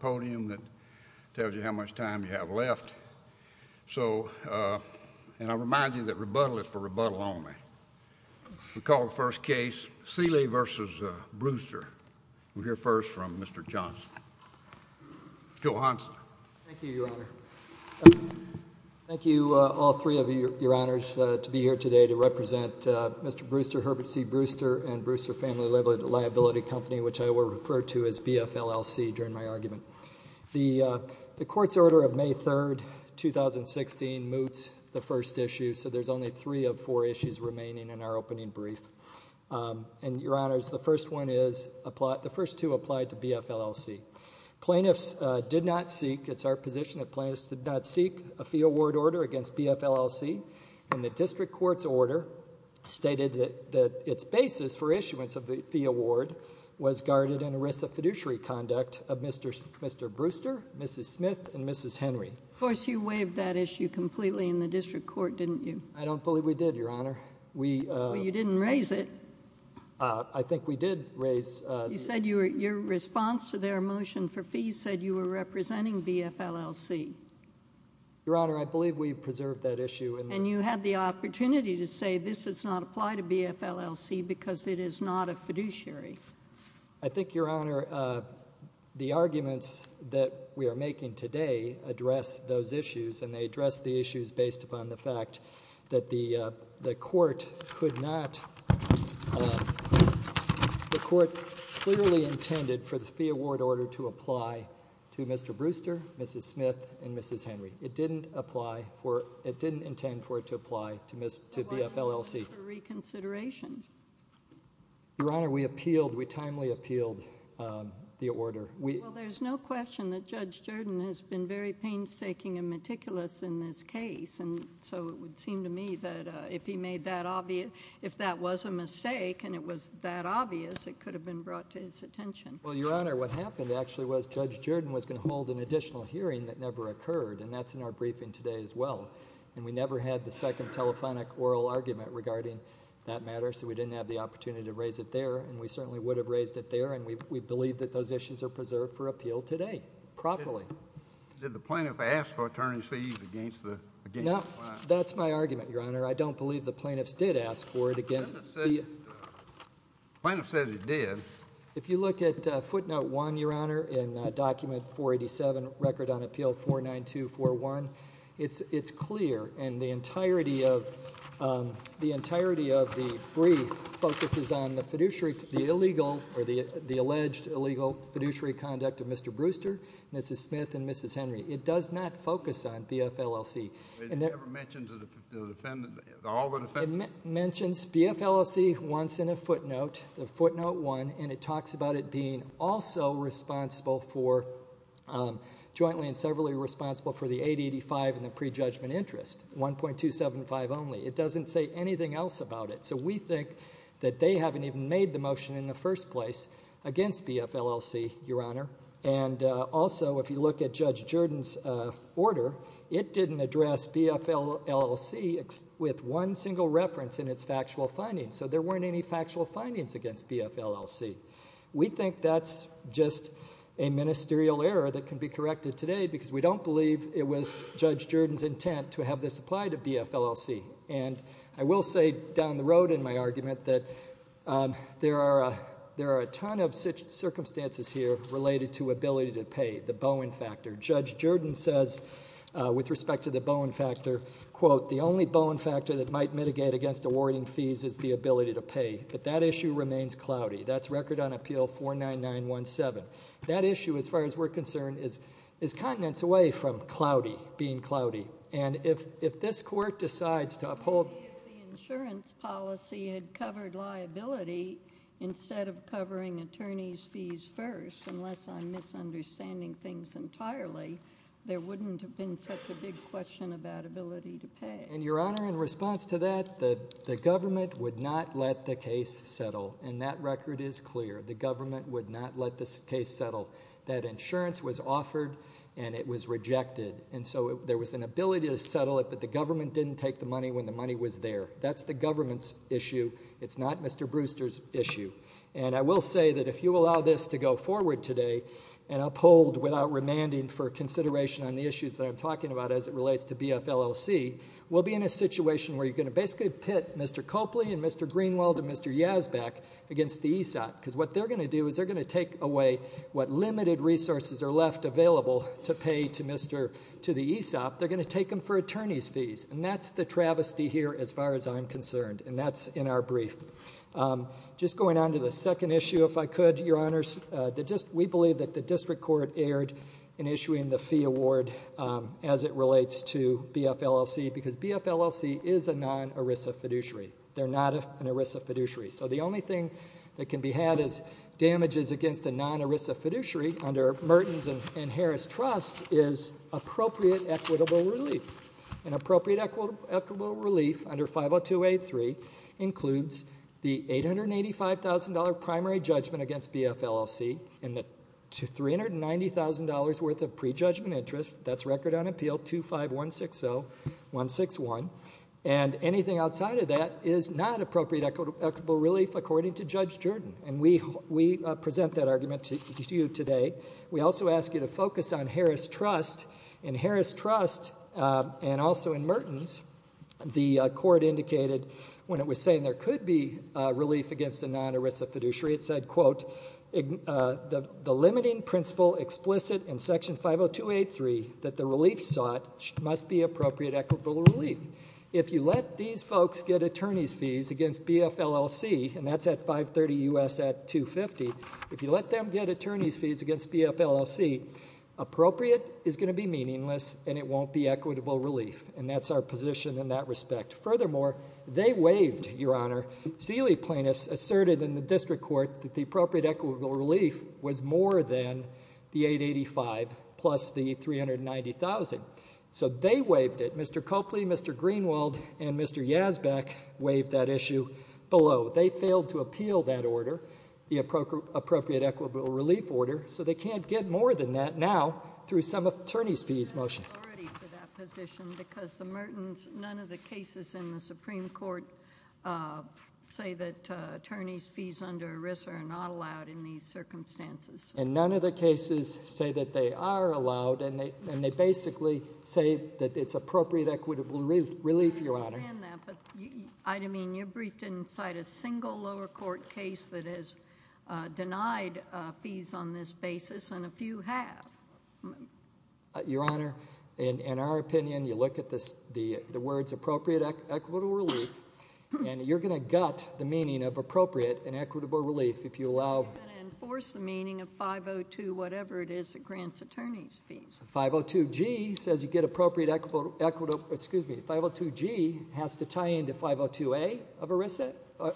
podium that tells you how much time you have left, so and I'll remind you that rebuttal is for rebuttal only. We call the first case Seeley v. Bruister. We'll hear first from Mr. Johnson. Joe Hanson. Thank you, Your Honor. Thank you, all three of you, Your Honors, to be here today to represent Mr. Bruister, Herbert C. Bruister, and Bruister Family Liability Company, which I will refer to as BFLLC. The court's order of May 3rd, 2016 moots the first issue, so there's only three of four issues remaining in our opening brief, and, Your Honors, the first one is, the first two applied to BFLLC. Plaintiffs did not seek, it's our position that plaintiffs did not seek a fee award order against BFLLC, and the district court's order stated that its basis for issuance of the fee award was guarded in the risk of fiduciary conduct of Mr. Bruister, Mrs. Smith, and Mrs. Henry. Of course, you waived that issue completely in the district court, didn't you? I don't believe we did, Your Honor. Well, you didn't raise it. I think we did raise it. You said your response to their motion for fees said you were representing BFLLC. Your Honor, I believe we preserved that issue. And you had the I think, Your Honor, the arguments that we are making today address those issues, and they address the issues based upon the fact that the court could not, the court clearly intended for the fee award order to apply to Mr. Bruister, Mrs. Smith, and Mrs. Henry. It didn't apply for, it didn't intend for it to apply to BFLLC. Your Honor, we appealed, we timely appealed the order. Well, there's no question that Judge Jordan has been very painstaking and meticulous in this case, and so it would seem to me that if he made that obvious, if that was a mistake and it was that obvious, it could have been brought to his attention. Well, Your Honor, what happened actually was Judge Jordan was going to hold an additional hearing that never occurred, and that's in our briefing today as well. And we never had the second telephonic oral argument regarding that matter, so we didn't have the opportunity to raise it there, and we certainly would have raised it there, and we believe that those issues are preserved for appeal today, properly. Did the plaintiff ask for attorney's fees against the, against the client? No, that's my argument, Your Honor. I don't believe the plaintiffs did ask for it against, the plaintiff said he did. If you look at footnote one, Your Honor, in document 487, record on 2-4-1, it's, it's clear, and the entirety of, the entirety of the brief focuses on the fiduciary, the illegal, or the, the alleged illegal fiduciary conduct of Mr. Brewster, Mrs. Smith, and Mrs. Henry. It does not focus on BFLLC, and it mentions BFLLC once in a footnote, the footnote one, and it talks about it being also responsible for, jointly and severally responsible for the 885 and the prejudgment interest, 1.275 only. It doesn't say anything else about it, so we think that they haven't even made the motion in the first place against BFLLC, Your Honor, and also, if you look at Judge Jordan's order, it didn't address BFLLC with one single reference in its factual findings, so there weren't any just a ministerial error that can be corrected today because we don't believe it was Judge Jordan's intent to have this apply to BFLLC, and I will say down the road in my argument that there are a, there are a ton of circumstances here related to ability to pay, the Bowen factor. Judge Jordan says, with respect to the Bowen factor, quote, the only Bowen factor that might mitigate against awarding fees is the ability to pay, but that issue remains cloudy. That's record on appeal 49917. That issue, as far as we're concerned, is, is continents away from cloudy, being cloudy, and if, if this court decides to uphold the insurance policy had covered liability instead of covering attorneys fees first, unless I'm misunderstanding things entirely, there wouldn't have been such a big question about ability to pay. And, Your Honor, in response to that, the, the government would not let the case settle, and that record is clear. The government would not let this case settle. That insurance was offered, and it was rejected, and so there was an ability to settle it, but the government didn't take the money when the money was there. That's the government's issue. It's not Mr. Brewster's issue, and I will say that if you allow this to go forward today and uphold without remanding for consideration on the issues that I'm talking about as it relates to Mr. Greenwald and Mr. Yazbek against the ESOP, because what they're going to do is they're going to take away what limited resources are left available to pay to Mr., to the ESOP. They're going to take them for attorneys fees, and that's the travesty here, as far as I'm concerned, and that's in our brief. Just going on to the second issue, if I could, Your Honors, that just, we believe that the District Court erred in issuing the fee award as it relates to BFLLC, because BFLLC is a non-ERISA fiduciary. They're not an ERISA fiduciary, so the only thing that can be had as damages against a non-ERISA fiduciary under Mertens and Harris Trust is appropriate equitable relief. An appropriate equitable relief under 50283 includes the $885,000 primary judgment against BFLLC, and the $390,000 worth of prejudgment interest, that's record on appeal 25160161, and anything outside of that is not appropriate equitable relief according to Judge Jordan, and we present that argument to you today. We also ask you to focus on Harris Trust. In Harris Trust and also in Mertens, the court indicated when it was saying there could be relief against a non-ERISA fiduciary, it said, quote, the limiting principle explicit in section 50283 that the relief sought must be appropriate equitable relief. If you let these folks get attorney's fees against BFLLC, and that's at $530,000 U.S. at $250,000, if you let them get attorney's fees against BFLLC, appropriate is going to be meaningless, and it won't be equitable relief, and that's our position in that respect. Furthermore, they waived, Your Honor. Zealy plaintiffs asserted in the district court that the appropriate equitable relief was $390,000, so they waived it. Mr. Copley, Mr. Greenwald, and Mr. Yazbeck waived that issue below. They failed to appeal that order, the appropriate equitable relief order, so they can't get more than that now through some attorney's fees motion. None of the cases in the Supreme Court say that attorney's fees under ERISA are not allowed in these circumstances. And none of the cases say that they are allowed, and they basically say that it's appropriate equitable relief, Your Honor. I understand that, but I mean, you briefed inside a single lower court case that has denied fees on this basis, and a few have. Your Honor, in our opinion, you look at the words appropriate equitable relief, and you're going to gut the meaning of appropriate and equitable relief if you allow... You're going to enforce the 502 whatever it is that grants attorney's fees. 502 G says you get appropriate equitable... excuse me... 502 G has to tie into 502 A of ERISA,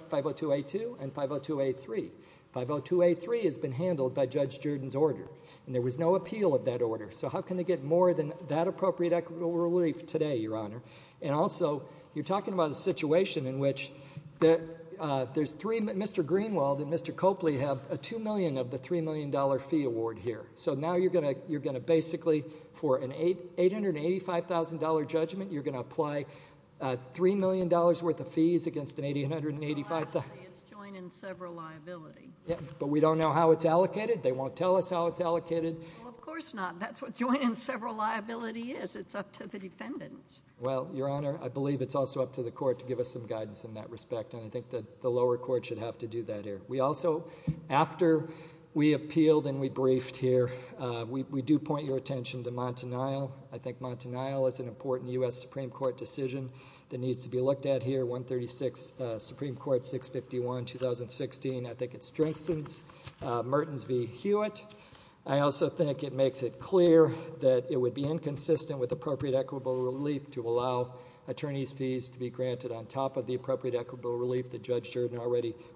502 A2, and 502 A3. 502 A3 has been handled by Judge Jordan's order, and there was no appeal of that order, so how can they get more than that appropriate equitable relief today, Your Honor? And also, you're talking about a situation in which there's three... Mr. Greenwald and Mr. Copley have a $2 million of the $3 million fee award here, so now you're going to basically, for an $885,000 judgment, you're going to apply $3 million worth of fees against an $885,000... It's joint and several liability. But we don't know how it's allocated. They won't tell us how it's allocated. Of course not. That's what joint and several liability is. It's up to the defendants. Well, Your Honor, I believe it's also up to the court to give us some guidance in that respect, and I think that the lower court should have to do that here. We also... after we appealed and we briefed here, we do point your attention to Montanile. I think Montanile is an important U.S. Supreme Court decision that needs to be looked at here. 136 Supreme Court 651, 2016. I think it strengthens Mertens v. Hewitt. I also think it makes it clear that it would be inconsistent with appropriate equitable relief to allow attorney's fees to be granted on top of the appropriate equitable relief that Judge Jordan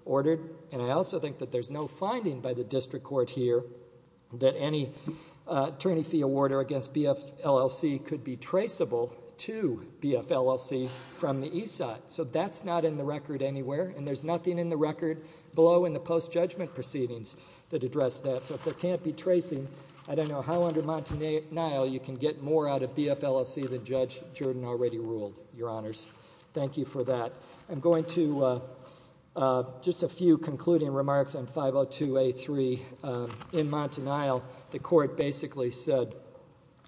ordered, and I also think that there's no finding by the district court here that any attorney fee awarder against BF LLC could be traceable to BF LLC from the east side. So that's not in the record anywhere, and there's nothing in the record below in the post-judgment proceedings that address that. So if there can't be tracing, I don't know how under Montanile you can get more out of BF LLC than Judge Jordan already ruled, Your Honors. Thank you for that. I'm going to just a few concluding remarks on 502A3 in Montanile. The court basically said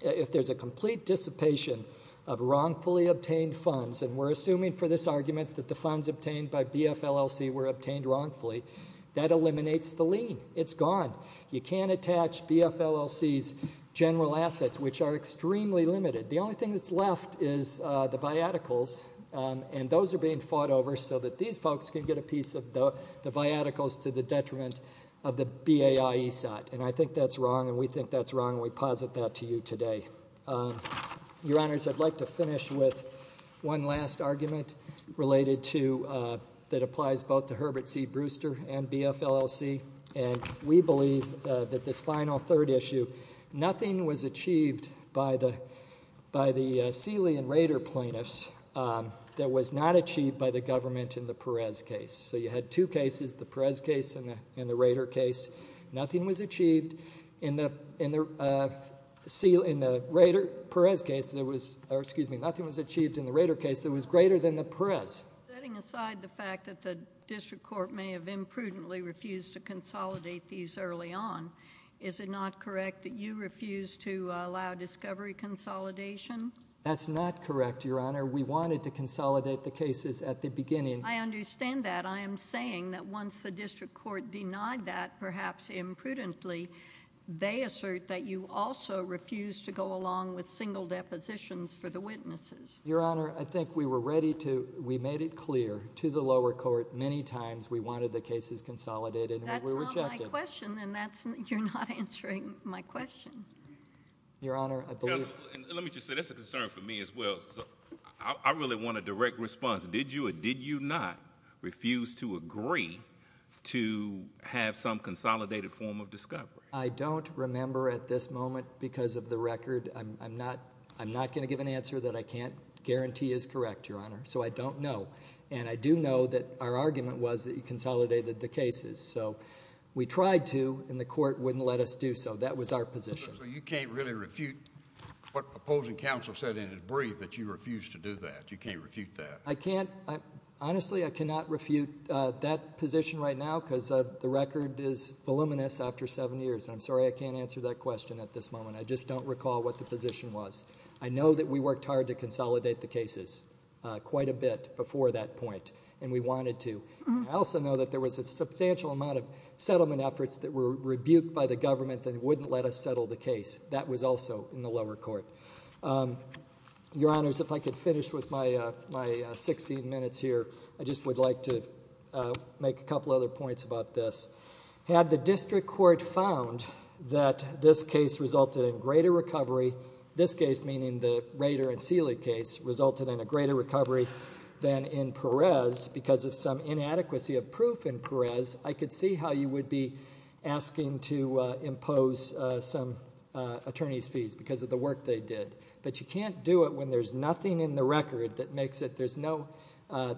if there's a complete dissipation of wrongfully obtained funds, and we're assuming for this argument that the funds obtained by BF LLC were obtained wrongfully, that eliminates the lien. It's gone. You can't attach BF LLC's general assets, which are extremely limited. The only thing that's left is the viaticals, and those are being fought over so that these folks can get a piece of the viaticals to the detriment of the BAI ESOT, and I think that's wrong, and we think that's wrong, and we posit that to you today. Your Honors, I'd like to finish with one last argument that applies both to Herbert C. Brewster and BF LLC, and we believe that this final third issue, nothing was achieved by the plaintiffs that was not achieved by the government in the Perez case. So you had two cases, the Perez case and the Rader case. Nothing was achieved in the Rader-Perez case that was, or excuse me, nothing was achieved in the Rader case that was greater than the Perez. Setting aside the fact that the district court may have imprudently refused to consolidate these early on, is it not correct that you refused to allow discovery consolidation? That's not correct, Your Honor. We wanted to consolidate the cases at the beginning. I understand that. I am saying that once the district court denied that, perhaps imprudently, they assert that you also refused to go along with single depositions for the witnesses. Your Honor, I think we were ready to, we made it clear to the lower court many times we wanted the cases consolidated, and we were rejected. That's not my question, and you're not answering my question. Your Honor, I believe. Let me just say, that's a concern for me as well. I really want a direct response. Did you or did you not refuse to agree to have some consolidated form of discovery? I don't remember at this moment because of the record. I'm not, I'm not going to give an answer that I can't guarantee is correct, Your Honor. So I don't know, and I do know that our argument was that you consolidated the cases. So we tried to, and the court wouldn't let us do so. That was our position. You can't really refute what opposing counsel said in his brief that you refused to do that. You can't refute that. I can't. Honestly, I cannot refute that position right now because the record is voluminous after seven years. I'm sorry I can't answer that question at this moment. I just don't recall what the position was. I know that we worked hard to consolidate the cases quite a bit before that point, and we wanted to. I also know that there was a substantial amount of settlement efforts that were rebuked by the government that wouldn't let us settle the case. That was also in the lower court. Your Honors, if I could finish with my, my 16 minutes here, I just would like to make a couple other points about this. Had the district court found that this case resulted in greater recovery, this case meaning the Rader and Seeley case, resulted in a greater recovery than in Perez because of some inadequacy of some attorney's fees because of the work they did. But you can't do it when there's nothing in the record that makes it, there's no,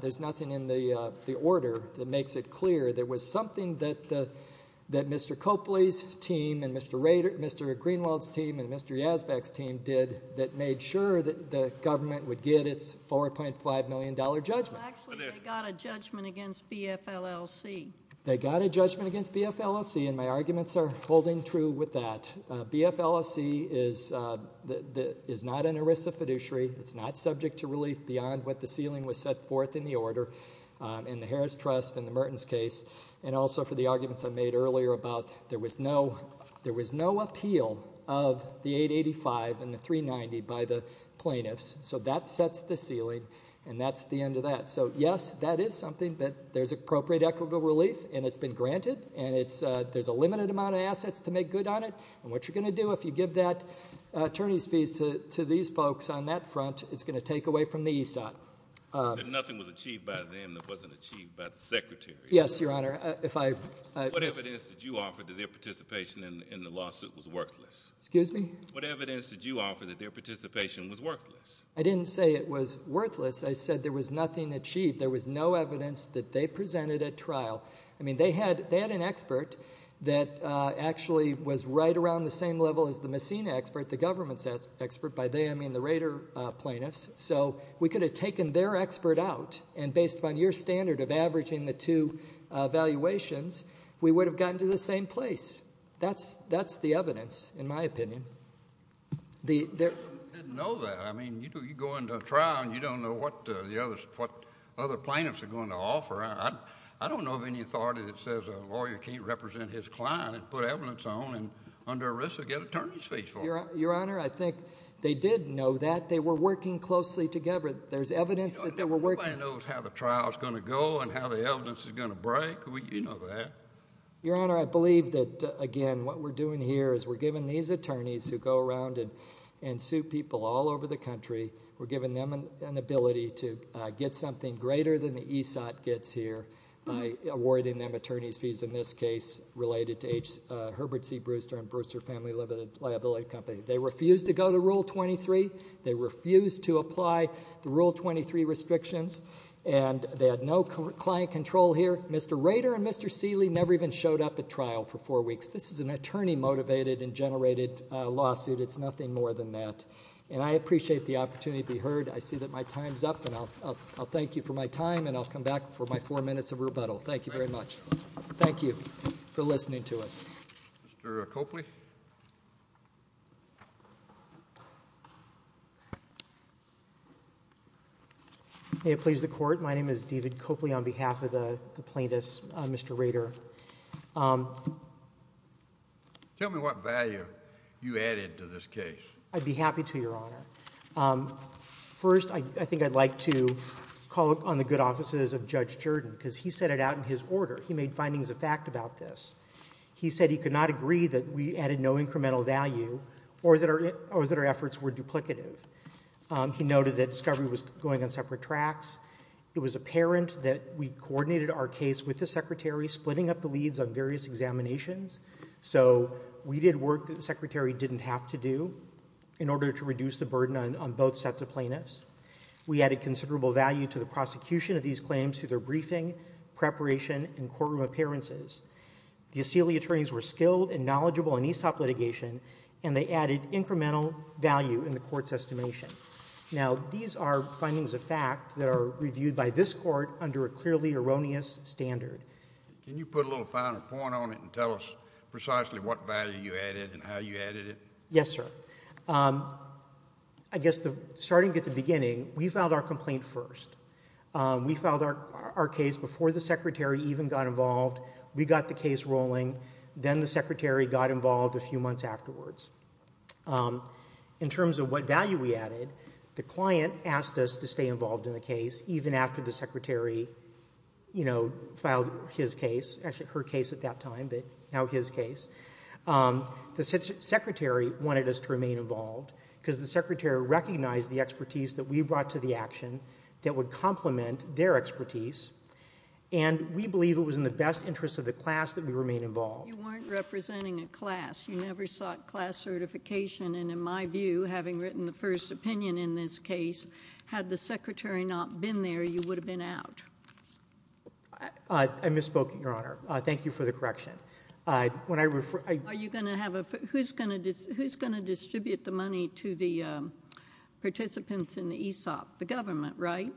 there's nothing in the order that makes it clear there was something that, that Mr. Copley's team and Mr. Rader, Mr. Greenwald's team and Mr. Yazbek's team did that made sure that the government would get its 4.5 million dollar judgment. Well, actually they got a judgment against BFLLC. They got a judgment against BFLLC and my arguments are holding true with that. BFLLC is the, is not an ERISA fiduciary. It's not subject to relief beyond what the ceiling was set forth in the order in the Harris Trust and the Mertens case and also for the arguments I made earlier about there was no, there was no appeal of the 885 and the 390 by the plaintiffs. So that sets the ceiling and that's the end of that. So yes, that is something that there's appropriate equitable relief and it's been granted and it's, there's a limited amount of assets to make good on it and what you're going to do if you give that attorneys fees to these folks on that front, it's going to take away from the ESOP. Nothing was achieved by them that wasn't achieved by the Secretary. Yes, Your Honor, if I... What evidence did you offer that their participation in the lawsuit was worthless? Excuse me? What evidence did you offer that their participation was worthless? I didn't say it was worthless. I said there was no evidence that they presented at trial. I mean, they had, they had an expert that actually was right around the same level as the Messina expert, the government's expert, by they I mean the Rader plaintiffs, so we could have taken their expert out and based upon your standard of averaging the two valuations, we would have gotten to the same place. That's, that's the evidence in my opinion. They didn't know that. I mean, you go into a trial and you don't know what the others, what other plaintiffs are going to offer. I don't know of any authority that says a lawyer can't represent his client and put evidence on and under arrest they'll get attorney's fees for it. Your Honor, I think they did know that. They were working closely together. There's evidence that they were working... Nobody knows how the trial is going to go and how the evidence is going to break. You know that. Your Honor, I believe that, again, what we're doing here is we're giving these attorneys who go around and and sue people all over the country, we're giving them an ability to get something greater than the ESOT gets here by awarding them attorney's fees, in this case related to H. Herbert C. Brewster and Brewster Family Limited Liability Company. They refused to go to Rule 23. They refused to apply the Rule 23 restrictions and they had no client control here. Mr. Rader and Mr. Seeley never even showed up at trial for four weeks. This is an attorney motivated and generated lawsuit. It's nothing more than that and I appreciate the time's up and I'll thank you for my time and I'll come back for my four minutes of rebuttal. Thank you very much. Thank you for listening to us. Mr. Copley. May it please the Court, my name is David Copley on behalf of the plaintiffs, Mr. Rader. Tell me what value you added to this case. I'd be happy to, Your Honor. First, I think I'd like to call upon the good offices of Judge Jordan because he set it out in his order. He made findings of fact about this. He said he could not agree that we added no incremental value or that our efforts were duplicative. He noted that discovery was going on separate tracks. It was apparent that we coordinated our case with the Secretary, splitting up the leads on various examinations, so we did work that the Secretary didn't have to do in order to reduce the burden on both sets of plaintiffs. We added considerable value to the prosecution of these claims through their briefing, preparation, and courtroom appearances. The asylee attorneys were skilled and knowledgeable in ESOP litigation and they added incremental value in the court's estimation. Now, these are findings of fact that are reviewed by this court under a clearly erroneous standard. Can you put a little finer point on it and tell us precisely what value you added and how you added it? Yes, sir. I guess starting at the beginning, we filed our complaint first. We filed our case before the Secretary even got involved. We got the case rolling, then the Secretary got involved a few months afterwards. In terms of what value we added, the client asked us to stay involved in the case even after the Secretary filed his case, actually her case at that time, but now his case. The Secretary wanted us to remain involved because the Secretary recognized the expertise that we brought to the action that would complement their expertise and we believe it was in the best interest of the class that we remain involved. You weren't representing a class. You never sought class certification and in my view, having written the first opinion in this case, had the Secretary not been there, you would have been out. I misspoke, Your Honor. Thank you for the correction. Who's going to distribute the money to the participants in the ESOP? The government, right?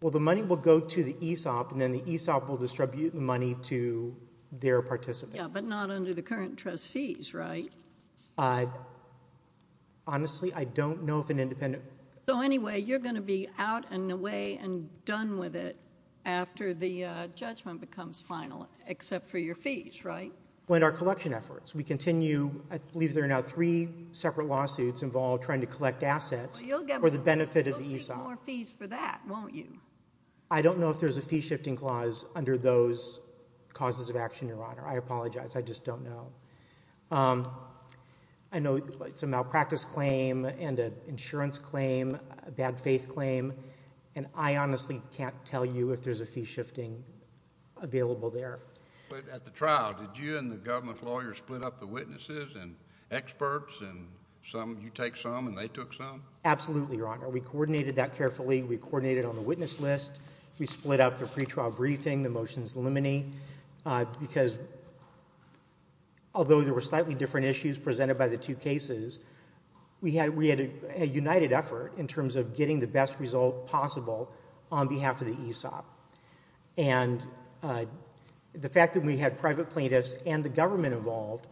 Well, the money will go to the ESOP and then the ESOP will distribute the money to their participants. Yeah, but not under the current trustees, right? Honestly, I don't know if an independent... So anyway, you're going to be out and away and done with it after the judgment becomes final except for your fees, right? With our collection efforts. We continue, I believe there are now three separate lawsuits involved trying to collect assets for the benefit of the ESOP. You'll get more fees for that, won't you? I don't know if there's a fee shifting clause under those causes of action, Your Honor. I apologize. I just don't know. I know it's a malpractice claim and an insurance claim, a bad faith claim, and I honestly can't tell you if there's a fee shifting available there. But at the trial, did you and the government lawyers split up the witnesses and experts and you take some and they took some? Absolutely, Your Honor. We coordinated that carefully. We coordinated on the witness list. We split up the pretrial briefing, the motions liminee, because although there were slightly different issues presented by the two cases, we had a united effort in terms of getting the best result possible on behalf of the ESOP. And the fact that we had private plaintiffs and the government involved,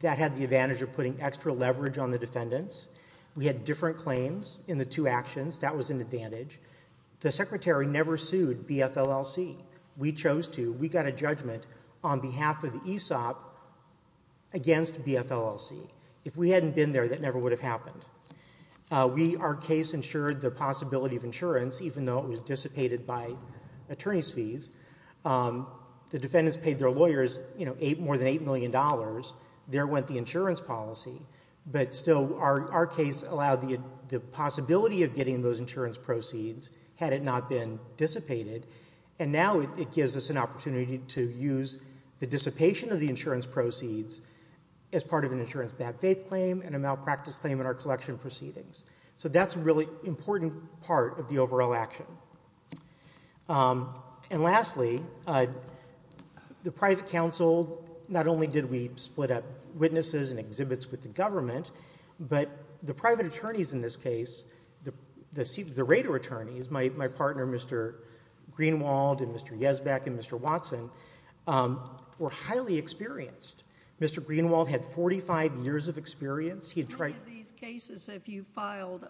that had the advantage of putting extra leverage on the defendants. We had different claims in the two actions. That was an advantage. The secretary never sued BFLLC. We chose to. We got a judgment on behalf of the ESOP against BFLLC. If we hadn't been there, that never would have happened. Our case ensured the possibility of insurance, even though it was dissipated by attorney's fees. The defendants paid their lawyers more than $8 million. There went the insurance policy. But still, our case allowed the possibility of getting those insurance proceeds, had it not been dissipated, and now it gives us an opportunity to use the dissipation of the insurance proceeds as part of an insurance bad faith claim and a malpractice claim in our collection proceedings. So that's a really important part of the overall action. And lastly, the private counsel, not only did we split up witnesses and exhibits with the government, but the private attorneys in this case, the Rader attorneys, my partner Mr. Greenwald and Mr. Yesbeck and Mr. Watson, were highly experienced. Mr. Greenwald had 45 years of experience. How many of these cases have you filed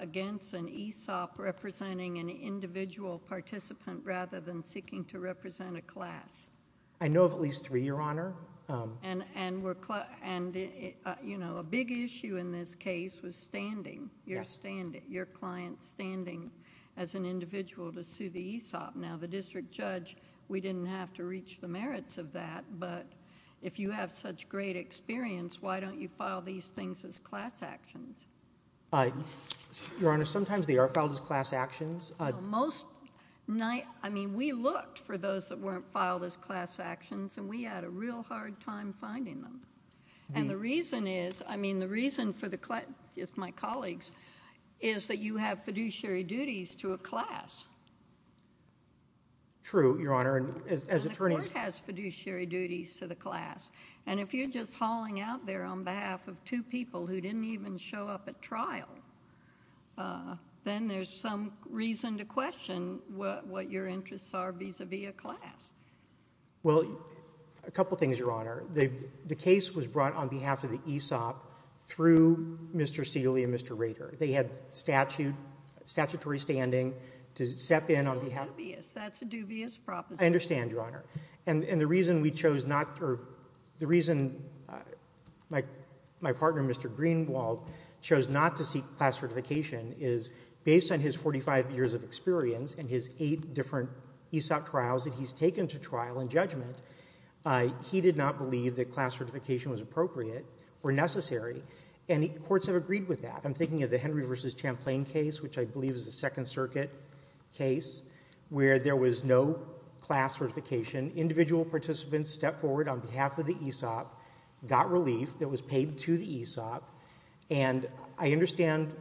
against an ESOP representing an individual participant rather than seeking to represent a class? I know of at least three, Your Honor. And, you know, a big issue in this case was standing, your client standing as an individual to sue the ESOP. Now, the district judge, we didn't have to reach the merits of that, but if you have such great experience, why don't you file these things as class actions? Your Honor, sometimes they are filed as class actions. Most night, I mean, we looked for those that weren't filed as class actions and we had a real hard time finding them. And the reason is, I mean, the reason for the client, my colleagues, is that you have fiduciary duties to a class. True, Your Honor. And the court has fiduciary duties to the class. And if you're just hauling out there on behalf of two people who didn't even show up at trial, then there's some reason to question what your interests are vis-à-vis a class. Well, a couple things, Your Honor. The case was brought on behalf of the ESOP through Mr. Seeley and Mr. Rader. They had statutory standing to step in on behalf of the ESOP. That's a dubious proposition. I understand, Your Honor. And the reason we chose not to, or the reason my partner, Mr. Greenwald, chose not to seek class certification is based on his 45 years of experience and his eight different ESOP trials that he's taken to trial and judgment, he did not believe that class certification was appropriate or necessary. And the courts have agreed with that. I'm thinking of the Henry v. Champlain case, which I believe is a Second Circuit case, where there was no class certification. Individual participants stepped forward on behalf of the ESOP, got relief that was paid to the ESOP, and I understand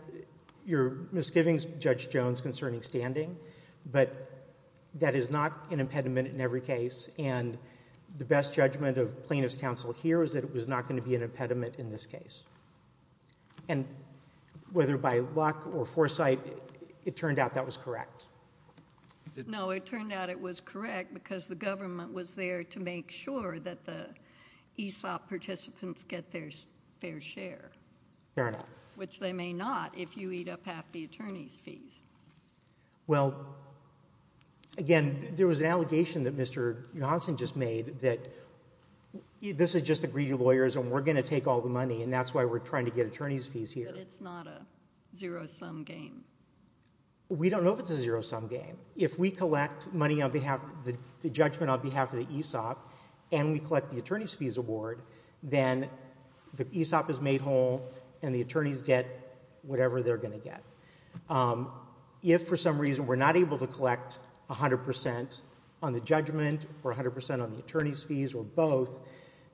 your misgivings, Judge Jones, concerning standing, but that is not an impediment in every case, and the best judgment of plaintiff's counsel here is that it was not going to be an impediment in this case. And whether by luck or foresight, it turned out that was correct. No, it turned out it was correct because the government was there to make sure that the ESOP participants get their fair share. Fair enough. Which they may not if you eat up half the attorney's fees. Well, again, there was an allegation that Mr. Johnson just made that this is just a greedy lawyers and we're going to take all the money and that's why we're trying to get attorney's fees here. But it's not a zero-sum game. We don't know if it's a zero-sum game. If we collect money on behalf of the judgment on behalf of the ESOP and we collect the attorney's fees award, then the ESOP is made whole and the attorneys get whatever they're going to get. If for some reason we're not able to collect 100% on the judgment or 100% on the attorney's fees or both,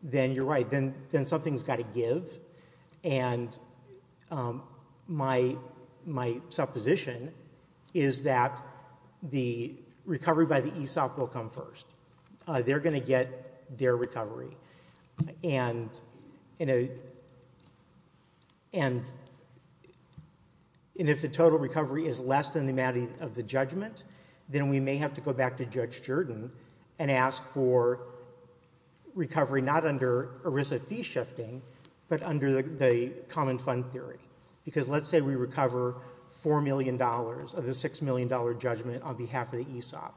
then you're right. Then something's got to give. And my supposition is that the recovery by the ESOP will come first. They're going to get their recovery. And if the total recovery is less than the amount of the judgment, then we may have to go back to Judge Jordan and ask for recovery not under ERISA fee shifting but under the common fund theory. Because let's say we recover $4 million of the $6 million judgment on behalf of the ESOP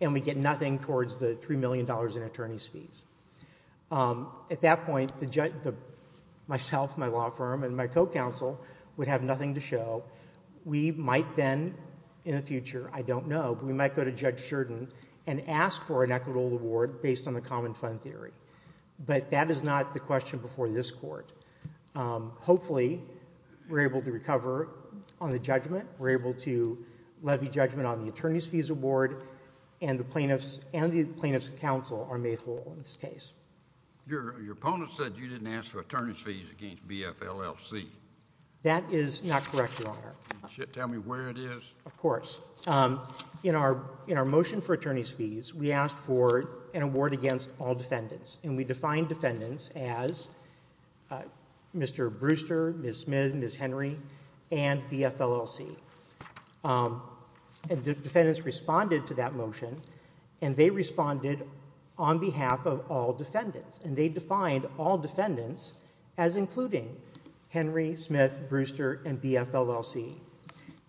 and we get nothing towards the $3 million in attorney's fees. At that point, myself, my law firm, and my co-counsel would have nothing to show. We might then in the future, I don't know, but we might go to Judge Jordan and ask for an equitable award based on the common fund theory. But that is not the question before this Court. Hopefully, we're able to recover on the judgment. We're able to levy judgment on the attorney's fees award and the plaintiff's counsel are mayful in this case. Your opponent said you didn't ask for attorney's fees against BFLLC. That is not correct, Your Honor. Tell me where it is. Of course. In our motion for attorney's fees, we asked for an award against all defendants and we defined defendants as Mr. Brewster, Ms. Smith, Ms. Henry, and BFLLC. The defendants responded to that motion and they responded on behalf of all defendants and they defined all defendants as including Henry, Smith, Brewster, and BFLLC.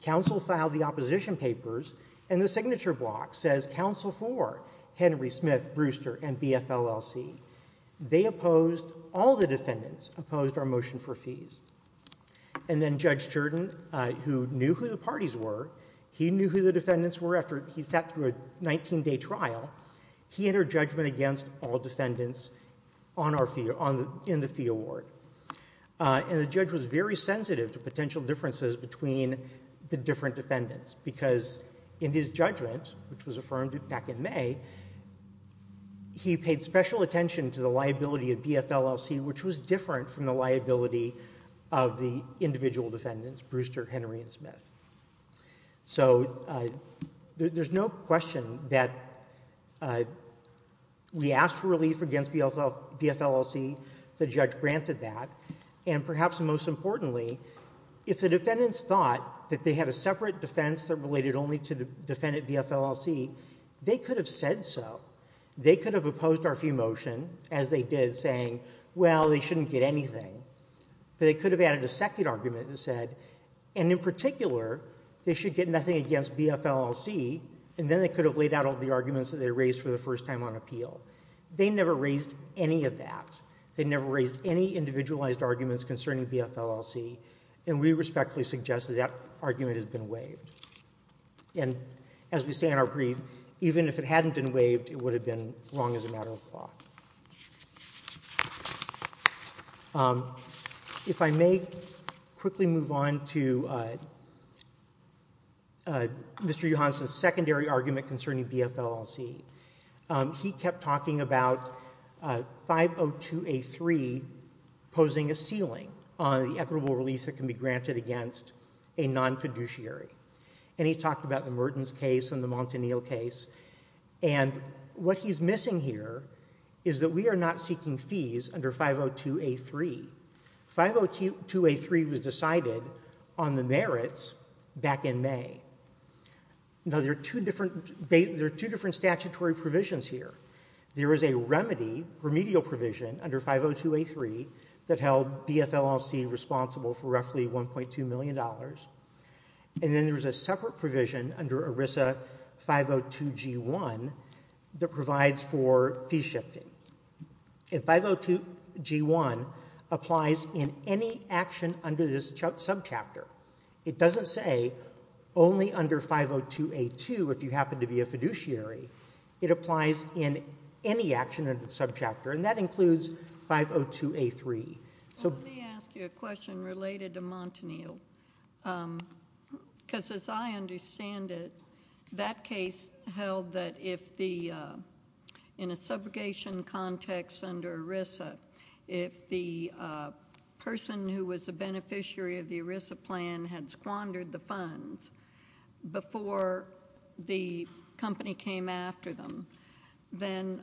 Counsel filed the opposition papers and the signature block says counsel for Henry, Smith, Brewster, and BFLLC. They opposed, all the defendants opposed our motion for fees. And then Judge Jordan, who knew who the parties were, he knew who the defendants were after he sat through a 19-day trial, he entered judgment against all defendants in the fee award. And the judge was very sensitive to potential differences between the different defendants because in his judgment, which was affirmed back in May, he paid special attention to the liability of BFLLC, which was different from the liability of the individual defendants, Brewster, Henry, and Smith. So there's no question that we asked for relief against BFLLC. The judge granted that. And perhaps most importantly, if the defendants thought that they had a separate defense that related only to defendant BFLLC, they could have said so. They could have opposed our fee motion, as they did, saying, well, they shouldn't get anything. But they could have added a second argument that said, and in particular, they should get nothing against BFLLC, and then they could have laid out all the arguments that they raised for the first time on appeal. They never raised any of that. They never raised any individualized arguments concerning BFLLC. And we respectfully suggest that that argument has been waived. And as we say in our brief, even if it hadn't been waived, it would have been wrong as a matter of law. If I may quickly move on to Mr. Johanson's secondary argument concerning BFLLC. He kept talking about 502A3 posing a ceiling on the equitable release that can be granted against a non-fiduciary. And he talked about the Mertens case and the Montanil case. And what he's missing here is that we are not seeking fees under 502A3. 502A3 was decided on the merits back in May. Now, there are two different statutory provisions here. There is a remedial provision under 502A3 that held BFLLC responsible for roughly $1.2 million. And then there's a separate provision under ERISA 502G1 that provides for fee shifting. And 502G1 applies in any action under this subchapter. It doesn't say only under 502A2 if you happen to be a fiduciary. It applies in any action under the subchapter, and that includes 502A3. Let me ask you a question related to Montanil because, as I understand it, that case held that if the—in a subrogation context under ERISA, if the person who was a beneficiary of the ERISA plan had squandered the funds before the company came after them, then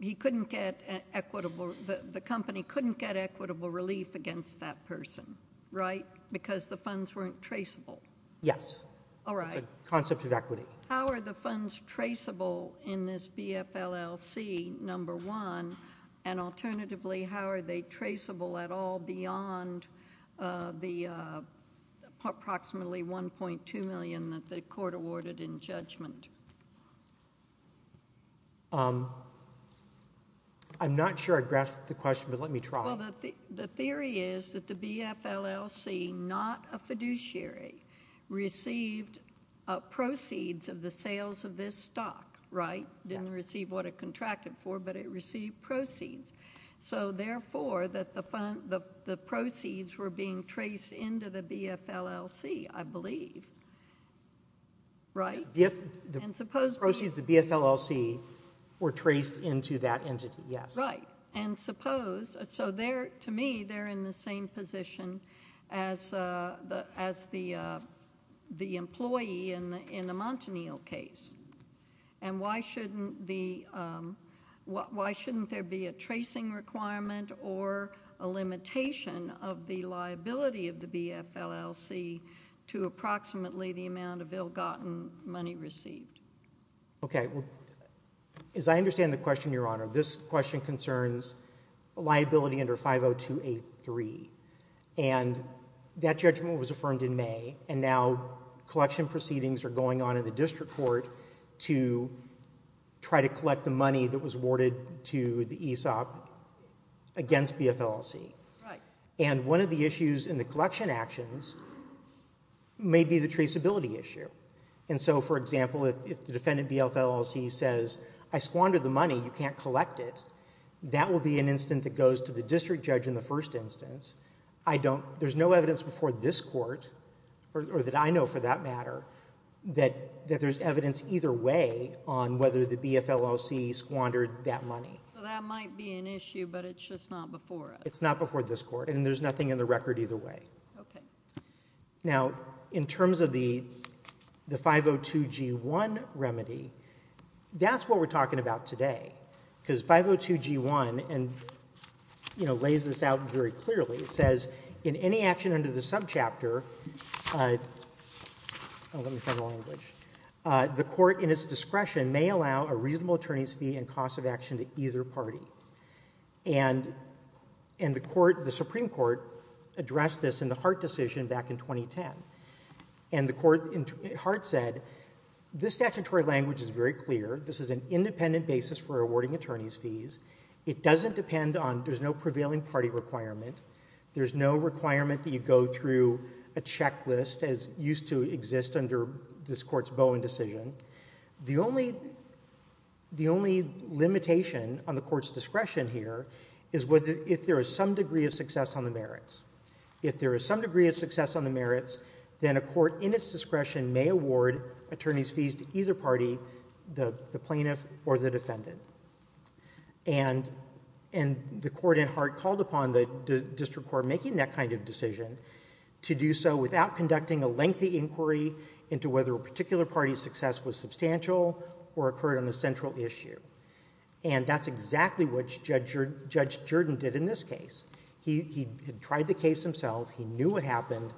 he couldn't get equitable—the company couldn't get equitable relief against that person, right? Because the funds weren't traceable. Yes. All right. It's a concept of equity. How are the funds traceable in this BFLLC, number one, and alternatively, how are they traceable at all beyond the approximately $1.2 million that the court awarded in judgment? I'm not sure I grasped the question, but let me try. Well, the theory is that the BFLLC, not a fiduciary, received proceeds of the sales of this stock, right? Yes. It didn't receive what it contracted for, but it received proceeds. So therefore, the proceeds were being traced into the BFLLC, I believe, right? The proceeds of the BFLLC were traced into that entity, yes. Right. And suppose—so to me, they're in the same position as the employee in the Montanil case. And why shouldn't there be a tracing requirement or a limitation of the liability of the BFLLC to approximately the amount of ill-gotten money received? Okay. As I understand the question, Your Honor, this question concerns liability under 50283, and that judgment was affirmed in May, and now collection proceedings are going on in the district court to try to collect the money that was awarded to the ESOP against BFLLC. Right. And one of the issues in the collection actions may be the traceability issue. And so, for example, if the defendant BFLLC says, I squandered the money, you can't collect it, that will be an instance that goes to the district judge in the first instance. I don't—there's no evidence before this court, or that I know for that matter, that there's evidence either way on whether the BFLLC squandered that money. So that might be an issue, but it's just not before us. It's not before this court, and there's nothing in the record either way. Okay. Now, in terms of the 502G1 remedy, that's what we're talking about today. Because 502G1, and, you know, lays this out very clearly. It says, in any action under the subchapter—oh, let me find the language— the court, in its discretion, may allow a reasonable attorney's fee and cost of action to either party. And the Supreme Court addressed this in the Hart decision back in 2010. And the court, Hart said, this statutory language is very clear. This is an independent basis for awarding attorney's fees. It doesn't depend on—there's no prevailing party requirement. There's no requirement that you go through a checklist, as used to exist under this court's Bowen decision. The only limitation on the court's discretion here is if there is some degree of success on the merits. If there is some degree of success on the merits, then a court, in its discretion, may award attorney's fees to either party, the plaintiff or the defendant. And the court in Hart called upon the district court making that kind of decision to do so without conducting a lengthy inquiry into whether a particular party's success was substantial or occurred on a central issue. And that's exactly what Judge Jordan did in this case. He tried the case himself. He knew what happened.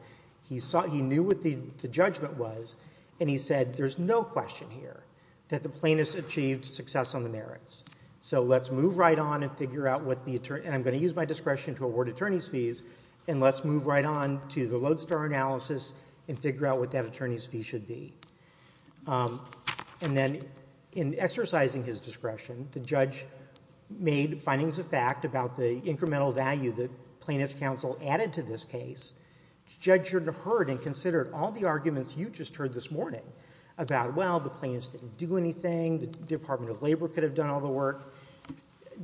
He knew what the judgment was. And he said, there's no question here that the plaintiff's achieved success on the merits. So let's move right on and figure out what the attorney— and I'm going to use my discretion to award attorney's fees. And let's move right on to the lodestar analysis and figure out what that attorney's fee should be. And then in exercising his discretion, the judge made findings of fact about the incremental value that plaintiff's counsel added to this case. Judge Jordan heard and considered all the arguments you just heard this morning about, well, the plaintiffs didn't do anything, the Department of Labor could have done all the work.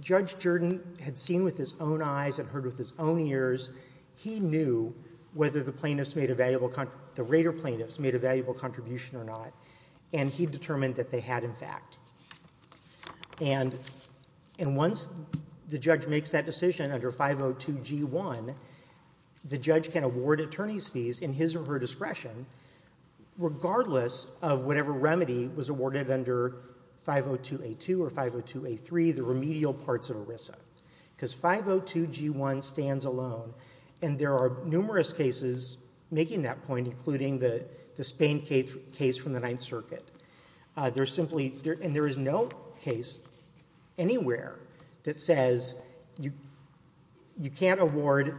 Judge Jordan had seen with his own eyes and heard with his own ears. He knew whether the plaintiffs made a valuable—the Rader plaintiffs made a valuable contribution or not. And he determined that they had, in fact. And once the judge makes that decision under 502G1, the judge can award attorney's fees in his or her discretion, regardless of whatever remedy was awarded under 502A2 or 502A3, the remedial parts of ERISA. Because 502G1 stands alone, and there are numerous cases making that point, including the Spain case from the Ninth Circuit. There's simply—and there is no case anywhere that says you can't award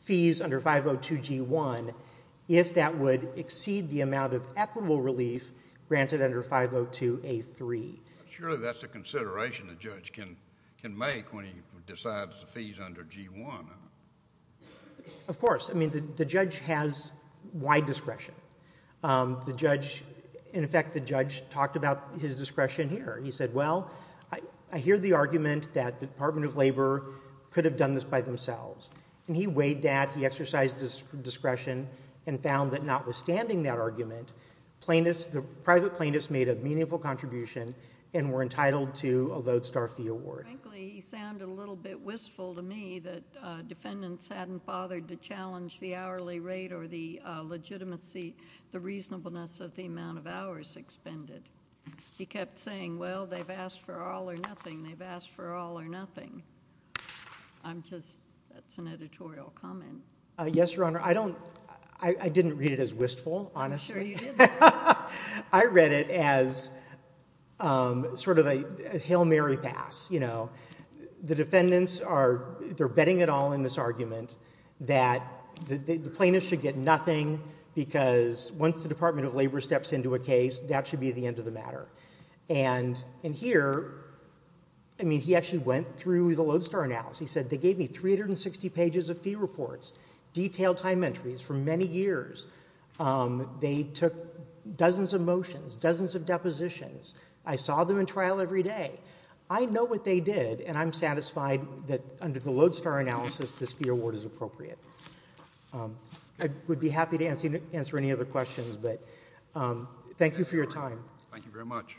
fees under 502G1 if that would exceed the amount of equitable relief granted under 502A3. Surely that's a consideration the judge can make when he decides the fees under G1. Of course. I mean, the judge has wide discretion. The judge—in effect, the judge talked about his discretion here. He said, well, I hear the argument that the Department of Labor could have done this by themselves. And he weighed that. He exercised his discretion and found that notwithstanding that argument, plaintiffs—the private plaintiffs made a meaningful contribution and were entitled to a lodestar fee award. Frankly, he sounded a little bit wistful to me that defendants hadn't bothered to challenge the hourly rate or the legitimacy, the reasonableness of the amount of hours expended. He kept saying, well, they've asked for all or nothing. They've asked for all or nothing. I'm just—that's an editorial comment. Yes, Your Honor. I don't—I didn't read it as wistful, honestly. I'm sure you didn't. I read it as sort of a Hail Mary pass. The defendants are—they're betting it all in this argument that the plaintiffs should get nothing because once the Department of Labor steps into a case, that should be the end of the matter. And here, I mean, he actually went through the lodestar analysis. He said, they gave me 360 pages of fee reports, detailed time entries for many years. They took dozens of motions, dozens of depositions. I saw them in trial every day. I know what they did, and I'm satisfied that under the lodestar analysis, this fee award is appropriate. I would be happy to answer any other questions, but thank you for your time. Thank you very much.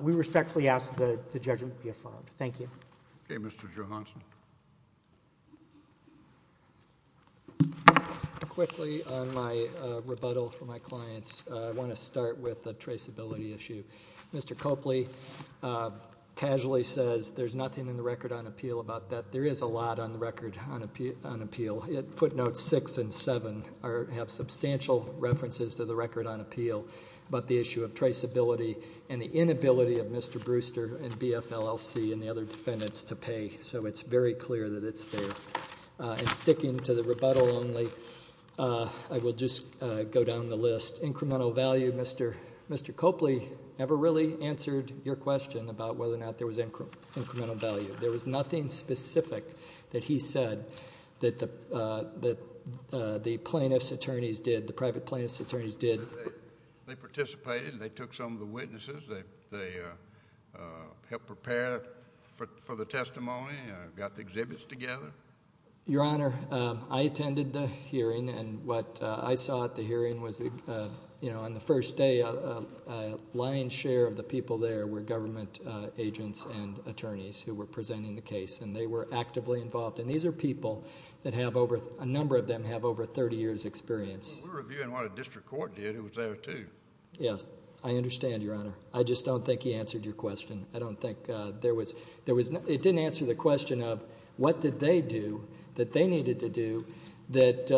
We respectfully ask that the judgment be affirmed. Thank you. Okay, Mr. Johanson. Quickly, on my rebuttal for my clients, I want to start with the traceability issue. Mr. Copley casually says there's nothing in the record on appeal about that. There is a lot on the record on appeal. Footnotes 6 and 7 have substantial references to the record on appeal about the issue of traceability and the inability of Mr. Brewster and BFLLC and the other defendants to pay, so it's very clear that it's there. And sticking to the rebuttal only, I will just go down the list. Incremental value, Mr. Copley never really answered your question about whether or not there was incremental value. There was nothing specific that he said that the plaintiff's attorneys did, the private plaintiff's attorneys did. They participated, and they took some of the witnesses. They helped prepare for the testimony and got the exhibits together. Your Honor, I attended the hearing, and what I saw at the hearing was on the first day, a lion's share of the people there were government agents and attorneys who were presenting the case, and they were actively involved. And these are people that have over – a number of them have over 30 years' experience. We were reviewing what a district court did. It was there, too. Yes, I understand, Your Honor. I just don't think he answered your question. I don't think there was – it didn't answer the question of what did they do that they needed to do that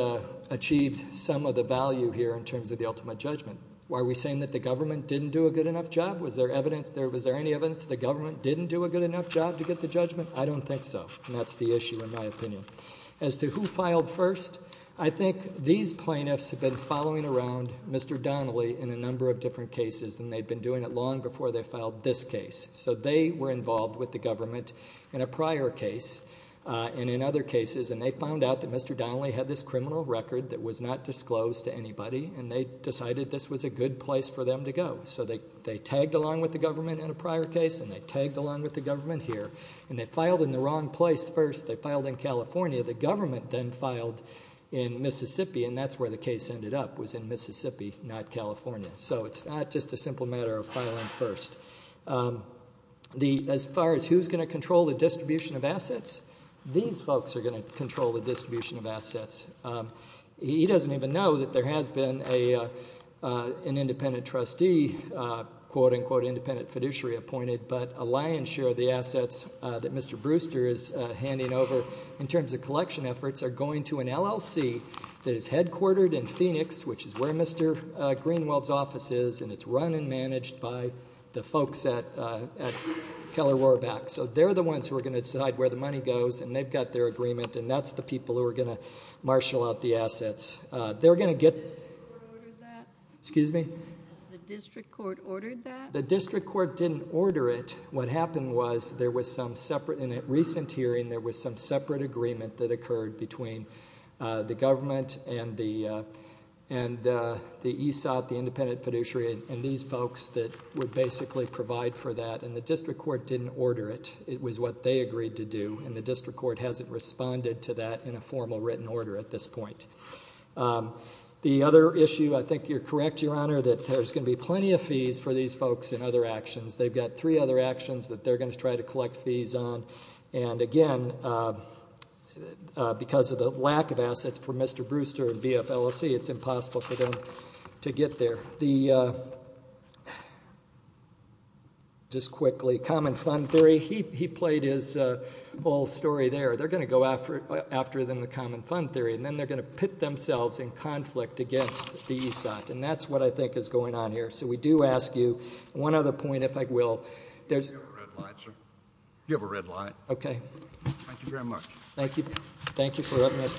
achieved some of the value here in terms of the ultimate judgment. Why are we saying that the government didn't do a good enough job? Was there evidence there? Was there any evidence that the government didn't do a good enough job to get the judgment? I don't think so, and that's the issue in my opinion. As to who filed first, I think these plaintiffs have been following around Mr. Donnelly in a number of different cases, and they'd been doing it long before they filed this case. So they were involved with the government in a prior case and in other cases, and they found out that Mr. Donnelly had this criminal record that was not disclosed to anybody, and they decided this was a good place for them to go. So they tagged along with the government in a prior case, and they tagged along with the government here. And they filed in the wrong place first. They filed in California. The government then filed in Mississippi, and that's where the case ended up, was in Mississippi, not California. So it's not just a simple matter of filing first. As far as who's going to control the distribution of assets, these folks are going to control the distribution of assets. He doesn't even know that there has been an independent trustee, quote-unquote independent fiduciary appointed, but a lion's share of the assets that Mr. Brewster is handing over in terms of collection efforts are going to an LLC that is headquartered in Phoenix, which is where Mr. Greenwald's office is, and it's run and managed by the folks at Keller-Rorbach. So they're the ones who are going to decide where the money goes, and they've got their agreement, and that's the people who are going to marshal out the assets. They're going to get- Has the district court ordered that? Excuse me? Has the district court ordered that? The district court didn't order it. In a recent hearing, there was some separate agreement that occurred between the government and the ESOP, the independent fiduciary, and these folks that would basically provide for that, and the district court didn't order it. It was what they agreed to do, and the district court hasn't responded to that in a formal written order at this point. The other issue, I think you're correct, Your Honor, that there's going to be plenty of fees for these folks in other actions. They've got three other actions that they're going to try to collect fees on, and again, because of the lack of assets for Mr. Brewster and BFLOC, it's impossible for them to get there. Just quickly, common fund theory. He played his whole story there. They're going to go after them with common fund theory, and then they're going to pit themselves in conflict against the ESOP, and that's what I think is going on here. So we do ask you one other point, if I will. Do you have a red light, sir? Do you have a red light? Okay. Thank you very much. Thank you.